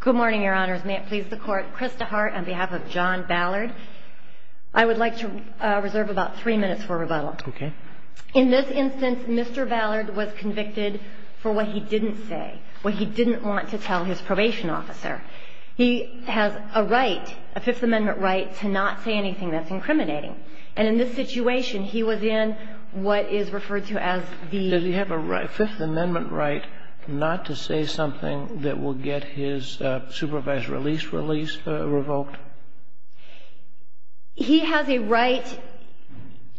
Good morning, Your Honors. May it please the Court, Chris DeHart on behalf of John Ballard. I would like to reserve about three minutes for rebuttal. Okay. In this instance, Mr. Ballard was convicted for what he didn't say, what he didn't want to tell his probation officer. He has a right, a Fifth Amendment right, to not say anything that's incriminating. And in this situation, he was in what is referred to as the… Does he have a Fifth Amendment right not to say something that will get his supervised release revoked? He has a right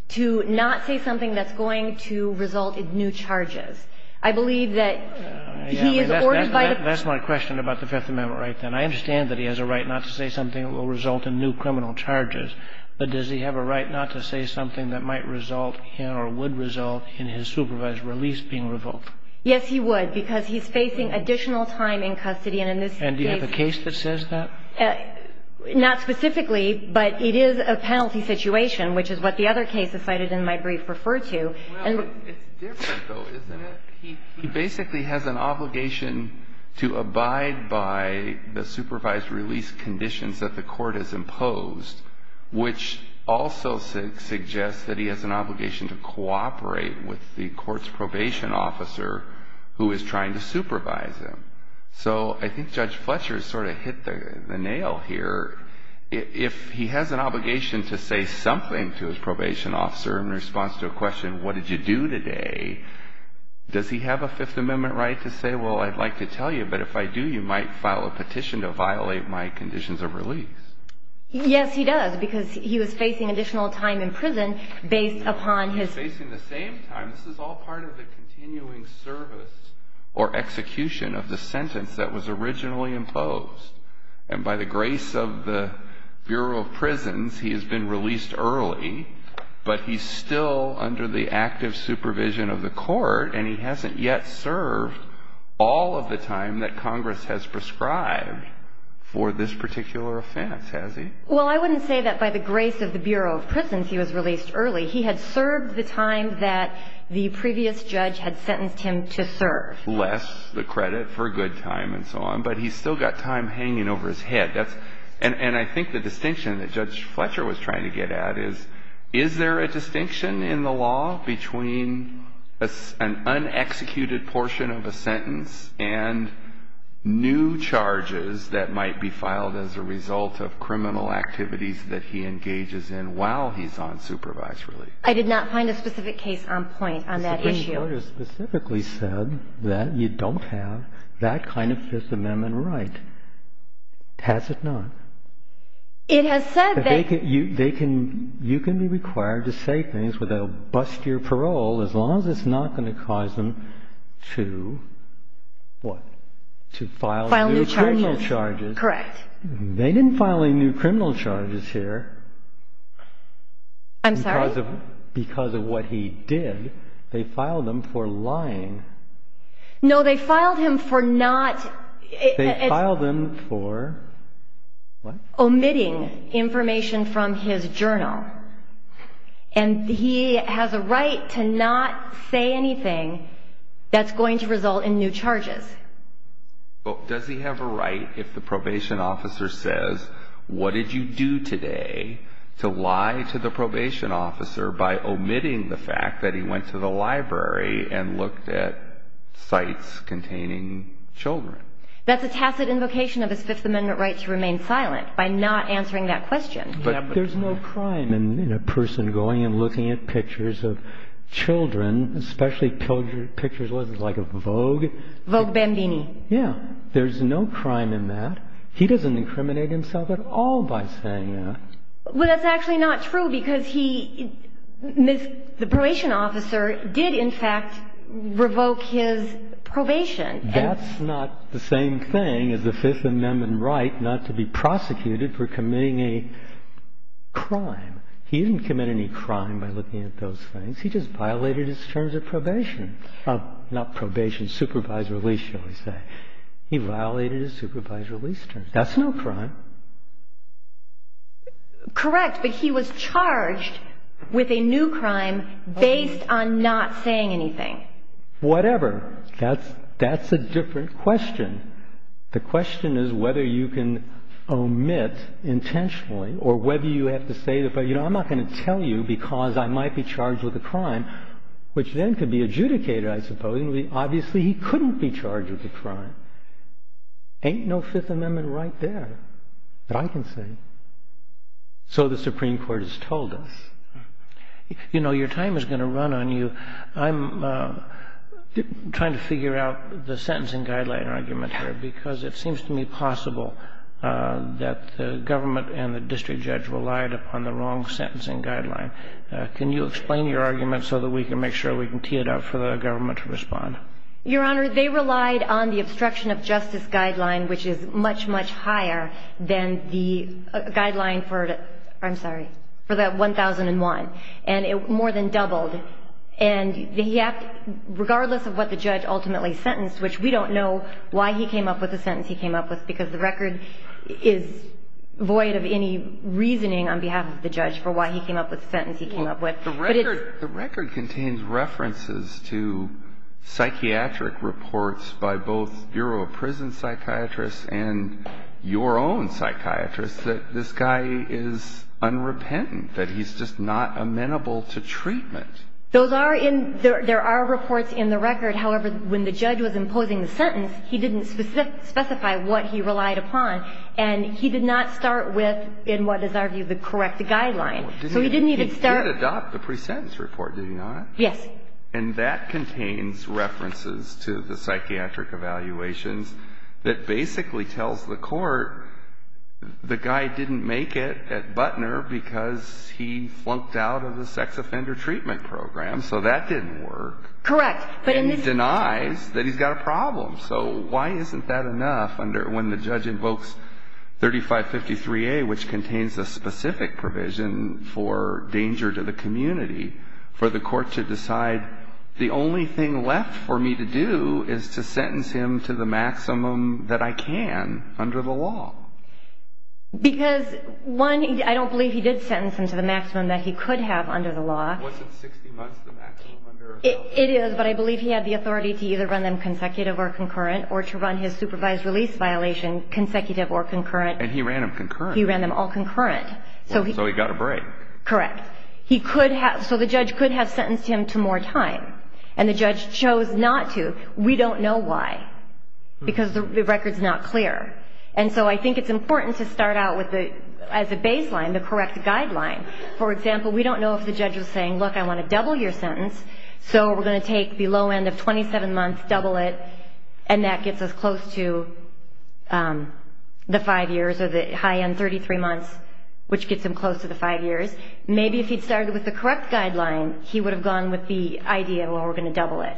to not say something that's going to result in new charges. I believe that he is ordered by the… That's my question about the Fifth Amendment right then. I understand that he has a right not to say something that will result in new criminal charges. But does he have a right not to say something that might result in or would result in his supervised release being revoked? Yes, he would, because he's facing additional time in custody. And in this case… And do you have a case that says that? Not specifically, but it is a penalty situation, which is what the other case is cited in my brief referred to. Well, it's different, though, isn't it? He basically has an obligation to abide by the supervised release conditions that the court has imposed, which also suggests that he has an obligation to cooperate with the court's probation officer who is trying to supervise him. So I think Judge Fletcher has sort of hit the nail here. If he has an obligation to say something to his probation officer in response to a question, what did you do today, does he have a Fifth Amendment right to say, well, I'd like to tell you, but if I do, you might file a petition to violate my conditions of release? Yes, he does, because he was facing additional time in prison based upon his… No, he's facing the same time. This is all part of the continuing service or execution of the sentence that was originally imposed. And by the grace of the Bureau of Prisons, he has been released early, but he's still under the active supervision of the court, and he hasn't yet served all of the time that Congress has prescribed for this particular offense, has he? Well, I wouldn't say that by the grace of the Bureau of Prisons he was released early. He had served the time that the previous judge had sentenced him to serve. And I think the distinction that Judge Fletcher was trying to get at is, is there a distinction in the law between an unexecuted portion of a sentence and new charges that might be filed as a result of criminal activities that he engages in while he's on supervised release? I did not find a specific case on point on that issue. The court has specifically said that you don't have that kind of Fifth Amendment right. Has it not? It has said that… You can be required to say things where they'll bust your parole as long as it's not going to cause them to what? To file new criminal charges. Correct. I'm sorry? Because of what he did, they filed him for lying. No, they filed him for not… They filed him for what? Omitting information from his journal. And he has a right to not say anything that's going to result in new charges. Well, does he have a right if the probation officer says, what did you do today to lie to the probation officer by omitting the fact that he went to the library and looked at sites containing children? That's a tacit invocation of his Fifth Amendment right to remain silent by not answering that question. But there's no crime in a person going and looking at pictures of children, especially pictures like of Vogue. Vogue Bambini. Yeah. There's no crime in that. He doesn't incriminate himself at all by saying that. Well, that's actually not true because he, the probation officer, did in fact revoke his probation. That's not the same thing as the Fifth Amendment right not to be prosecuted for committing a crime. He didn't commit any crime by looking at those things. He just violated his terms of probation. Not probation, supervised release, shall we say. He violated his supervised release terms. That's no crime. Correct, but he was charged with a new crime based on not saying anything. Whatever. That's a different question. The question is whether you can omit intentionally or whether you have to say, but, you know, I'm not going to tell you because I might be charged with a crime, which then could be adjudicated, I suppose. Obviously, he couldn't be charged with a crime. Ain't no Fifth Amendment right there that I can say. So the Supreme Court has told us. You know, your time is going to run on you. I'm trying to figure out the sentencing guideline argument here because it seems to me possible that the government and the district judge relied upon the wrong sentencing guideline. Can you explain your argument so that we can make sure we can tee it up for the government to respond? Your Honor, they relied on the obstruction of justice guideline, which is much, much higher than the guideline for the 1001, and it more than doubled. And regardless of what the judge ultimately sentenced, which we don't know why he came up with the sentence he came up with because the record is void of any reasoning on behalf of the judge for why he came up with the sentence he came up with. The record contains references to psychiatric reports by both Bureau of Prison Psychiatrists and your own psychiatrists that this guy is unrepentant, that he's just not amenable to treatment. There are reports in the record. However, when the judge was imposing the sentence, he didn't specify what he relied upon. And he did not start with, in what is our view, the correct guideline. So he didn't even start. He did adopt the pre-sentence report, did he not? Yes. And that contains references to the psychiatric evaluations that basically tells the court the guy didn't make it at Butner because he flunked out of the sex offender treatment program. So that didn't work. Correct. And denies that he's got a problem. So why isn't that enough when the judge invokes 3553A, which contains a specific provision for danger to the community, for the court to decide the only thing left for me to do is to sentence him to the maximum that I can under the law? Because, one, I don't believe he did sentence him to the maximum that he could have under the law. It is, but I believe he had the authority to either run them consecutive or concurrent or to run his supervised release violation consecutive or concurrent. And he ran them concurrent. He ran them all concurrent. So he got a break. Correct. So the judge could have sentenced him to more time. And the judge chose not to. We don't know why because the record's not clear. And so I think it's important to start out as a baseline, the correct guideline. For example, we don't know if the judge was saying, look, I want to double your sentence, so we're going to take the low end of 27 months, double it, and that gets us close to the five years or the high end, 33 months, which gets him close to the five years. Maybe if he'd started with the correct guideline, he would have gone with the idea, well, we're going to double it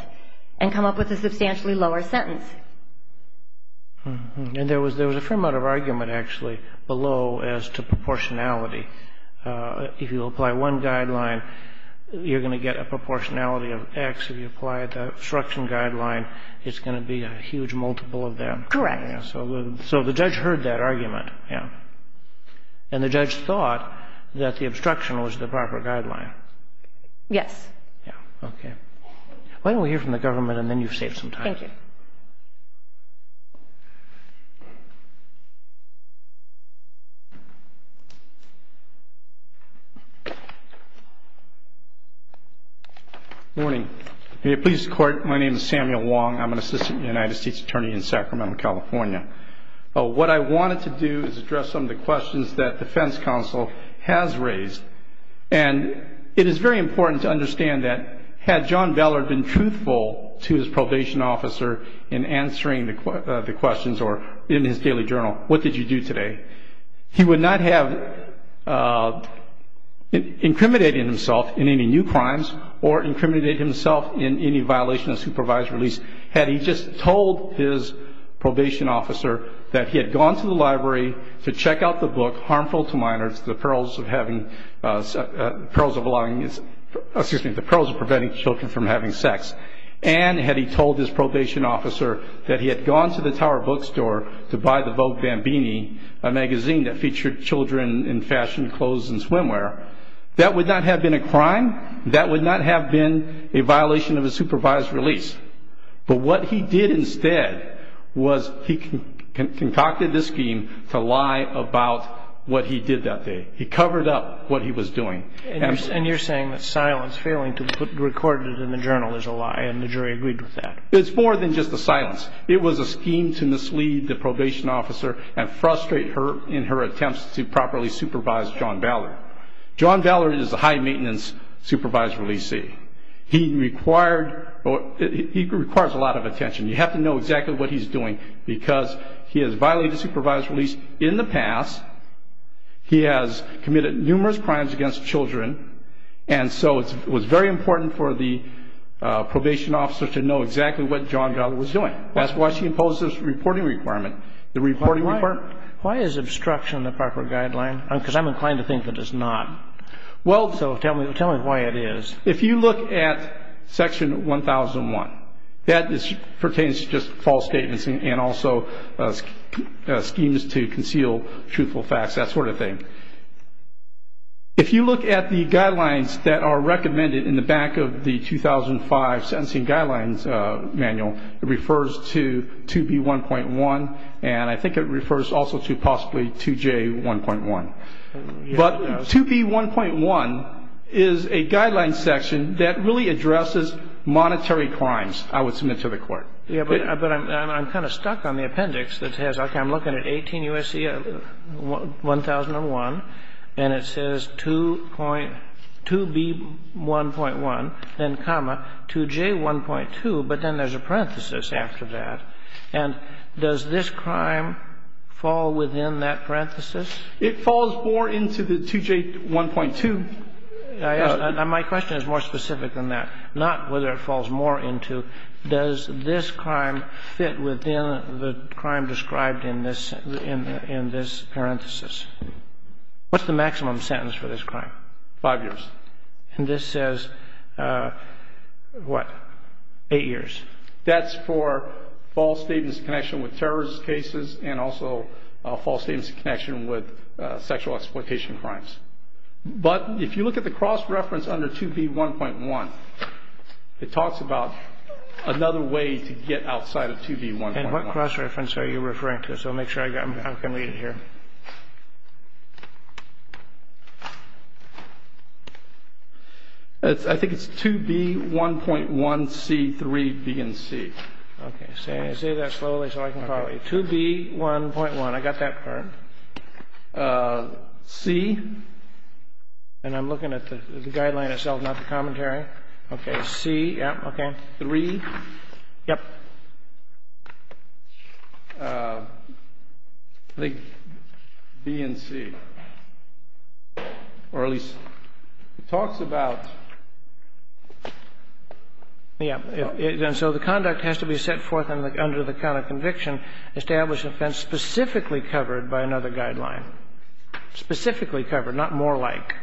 and come up with a substantially lower sentence. And there was a fair amount of argument, actually, below as to proportionality. If you apply one guideline, you're going to get a proportionality of X. If you apply the obstruction guideline, it's going to be a huge multiple of that. Correct. So the judge heard that argument. Yeah. And the judge thought that the obstruction was the proper guideline. Yes. Yeah. Okay. Why don't we hear from the government and then you've saved some time. Thank you. Good morning. May it please the Court, my name is Samuel Wong. I'm an Assistant United States Attorney in Sacramento, California. What I wanted to do is address some of the questions that the defense counsel has raised. And it is very important to understand that had John Beller been truthful to his probation officer in answering the questions or in his daily journal, what did you do today? He would not have incriminated himself in any new crimes or incriminated himself in any violation of supervised release had he just told his probation officer that he had gone to the library to check out the book, which is harmful to minors, the perils of preventing children from having sex. And had he told his probation officer that he had gone to the Tower Bookstore to buy the Vogue Bambini, a magazine that featured children in fashion, clothes, and swimwear, that would not have been a crime, that would not have been a violation of a supervised release. But what he did instead was he concocted this scheme to lie about what he did that day. He covered up what he was doing. And you're saying that silence, failing to record it in the journal, is a lie, and the jury agreed with that. It's more than just a silence. It was a scheme to mislead the probation officer and frustrate her in her attempts to properly supervise John Beller. John Beller is a high-maintenance supervised releasee. He requires a lot of attention. You have to know exactly what he's doing because he has violated supervised release in the past. He has committed numerous crimes against children. And so it was very important for the probation officer to know exactly what John Beller was doing. That's why she imposed this reporting requirement. Why is obstruction the proper guideline? Because I'm inclined to think that it's not. So tell me why it is. If you look at Section 1001, that pertains to just false statements and also schemes to conceal truthful facts, that sort of thing. If you look at the guidelines that are recommended in the back of the 2005 Sentencing Guidelines manual, it refers to 2B1.1, and I think it refers also to possibly 2J1.1. But 2B1.1 is a guideline section that really addresses monetary crimes, I would submit to the Court. But I'm kind of stuck on the appendix that says, okay, I'm looking at 18 U.S.C. 1001, and it says 2B1.1, then comma, 2J1.2, but then there's a parenthesis after that. And does this crime fall within that parenthesis? It falls more into the 2J1.2. My question is more specific than that. Not whether it falls more into. Does this crime fit within the crime described in this parenthesis? What's the maximum sentence for this crime? Five years. And this says, what, eight years? That's for false statements in connection with terrorist cases and also false statements in connection with sexual exploitation crimes. But if you look at the cross-reference under 2B1.1, it talks about another way to get outside of 2B1.1. And what cross-reference are you referring to? So I'll make sure I can read it here. I think it's 2B1.1C3BNC. Okay. Say that slowly so I can follow you. 2B1.1. I got that part. C. And I'm looking at the guideline itself, not the commentary. Okay. C. Yep. Okay. 3. Yep. And then it talks about, I think, B and C. Or at least it talks about the act. And so the conduct has to be set forth under the count of conviction, established offense specifically covered by another guideline. Specifically covered, not more like.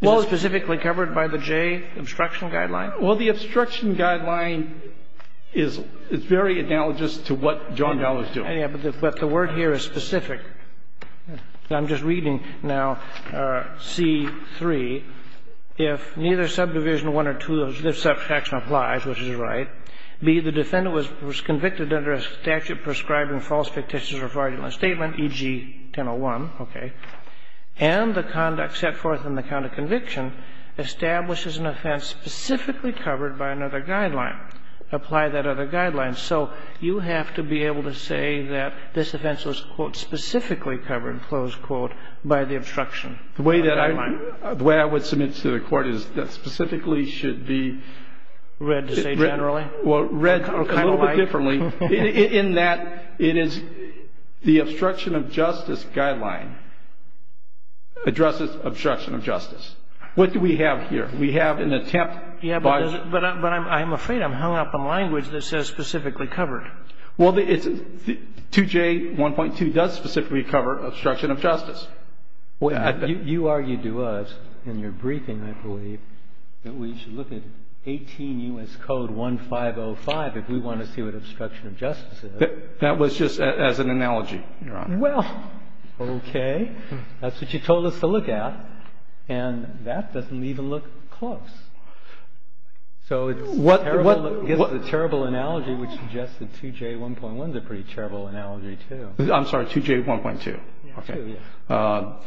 Well, it's specifically covered by the J obstruction guideline? Well, the obstruction guideline is very analogous to what John Dowell is doing. But the word here is specific. I'm just reading now C. 3. If neither subdivision 1 or 2 of this subsection applies, which is right, B, the defendant was convicted under a statute prescribing false fictitious or fraudulent statement, e.g. 1001. Okay. And the conduct set forth in the count of conviction establishes an offense specifically covered by another guideline. Apply that other guideline. So you have to be able to say that this offense was, quote, specifically covered, close quote, by the obstruction guideline. The way that I would submit to the Court is that specifically should be. Well, read a little bit differently. Kind of like. In that it is the obstruction of justice guideline addresses obstruction of justice. What do we have here? We have an attempt by. But I'm afraid I'm hung up on language that says specifically covered. Well, 2J 1.2 does specifically cover obstruction of justice. You argued to us in your briefing, I believe, that we should look at 18 U.S. Code 1505 if we want to see what obstruction of justice is. That was just as an analogy, Your Honor. Well, okay. That's what you told us to look at. And that doesn't even look close. So it's a terrible analogy, which suggests that 2J 1.1 is a pretty terrible analogy, too. I'm sorry, 2J 1.2. Okay.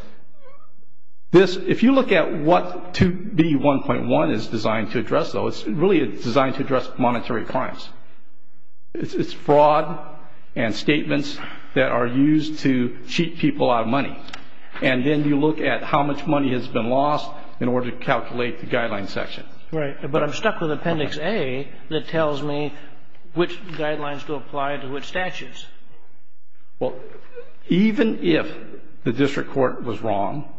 This, if you look at what 2B 1.1 is designed to address, though, it's really designed to address monetary crimes. It's fraud and statements that are used to cheat people out of money. And then you look at how much money has been lost in order to calculate the guideline section. Right. But I'm stuck with Appendix A that tells me which guidelines to apply to which statutes. Well, even if the district court was wrong,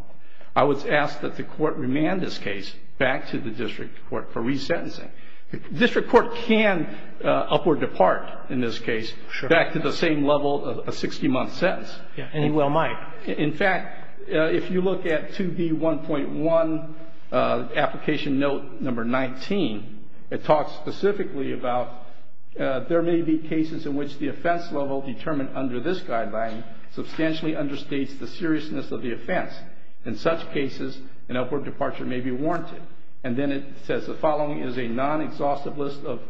I was asked that the court remand this case back to the district court for resentencing. District court can upward depart in this case back to the same level of a 60-month sentence. And it well might. In fact, if you look at 2B 1.1, application note number 19, it talks specifically about there may be cases in which the offense level determined under this guideline substantially understates the seriousness of the offense. In such cases, an upward departure may be warranted. And then it says the following is a non-exhaustive list of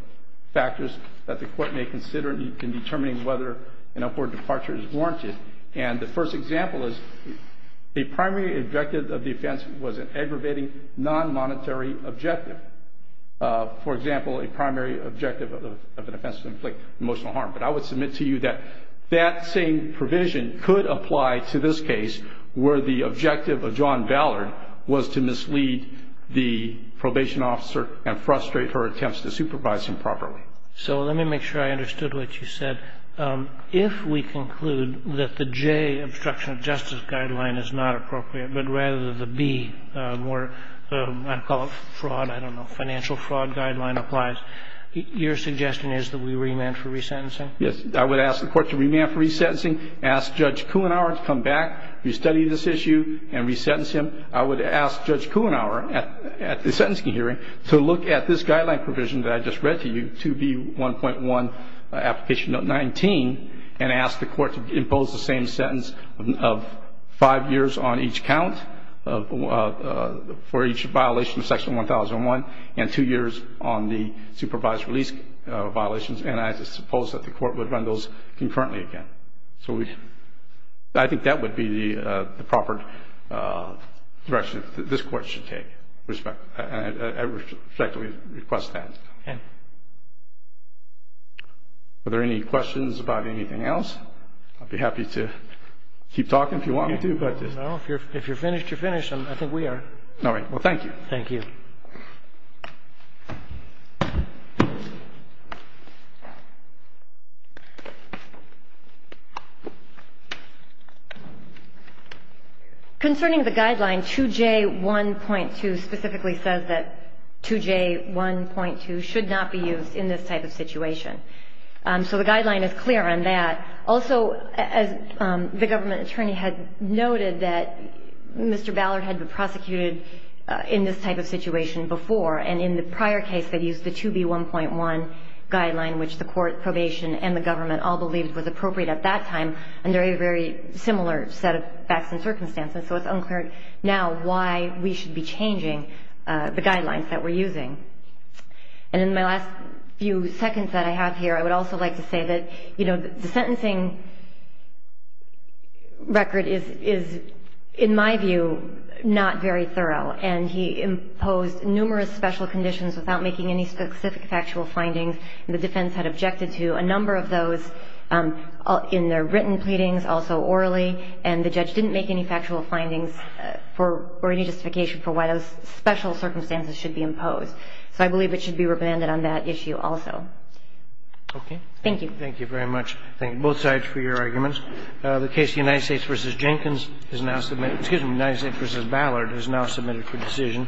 factors that the court may consider in determining whether an upward departure is warranted. And the first example is a primary objective of the offense was an aggravating non-monetary objective. For example, a primary objective of an offense to inflict emotional harm. But I would submit to you that that same provision could apply to this case where the probation officer and frustrate her attempts to supervise him properly. So let me make sure I understood what you said. If we conclude that the J, obstruction of justice guideline is not appropriate, but rather the B, where I call it fraud, I don't know, financial fraud guideline applies, your suggestion is that we remand for resentencing? Yes. I would ask the court to remand for resentencing, ask Judge Kuhnauer to come back, restudy this issue, and resentence him. And then I would ask Judge Kuhnauer at the sentencing hearing to look at this guideline provision that I just read to you, 2B1.1 Application Note 19, and ask the court to impose the same sentence of five years on each count for each violation of Section 1001 and two years on the supervised release violations. And I suppose that the court would run those concurrently again. So I think that would be the proper direction that this court should take. I respectfully request that. Okay. Are there any questions about anything else? I'd be happy to keep talking if you want me to. No, if you're finished, you're finished. I think we are. All right. Well, thank you. Thank you. Concerning the guideline, 2J1.2 specifically says that 2J1.2 should not be used in this type of situation. So the guideline is clear on that. Also, as the government attorney had noted that Mr. Ballard had been prosecuted in this type of situation before, and in the prior case that used the 2B1.1 guideline, which the court probation and the government all believed was appropriate at that time, under a very similar set of facts and circumstances. So it's unclear now why we should be changing the guidelines that we're using. And in my last few seconds that I have here, I would also like to say that, you know, the sentencing record is, in my view, not very thorough. And he imposed numerous special conditions without making any specific factual findings. And the defense had objected to a number of those in their written pleadings, also orally. And the judge didn't make any factual findings for any justification for why those special circumstances should be imposed. So I believe it should be remanded on that issue also. Okay. Thank you. Thank you very much. Thank you, both sides, for your arguments. The case of the United States v. Jenkins is now submitted ñ excuse me, United States v. Ballard is now submitted for decision.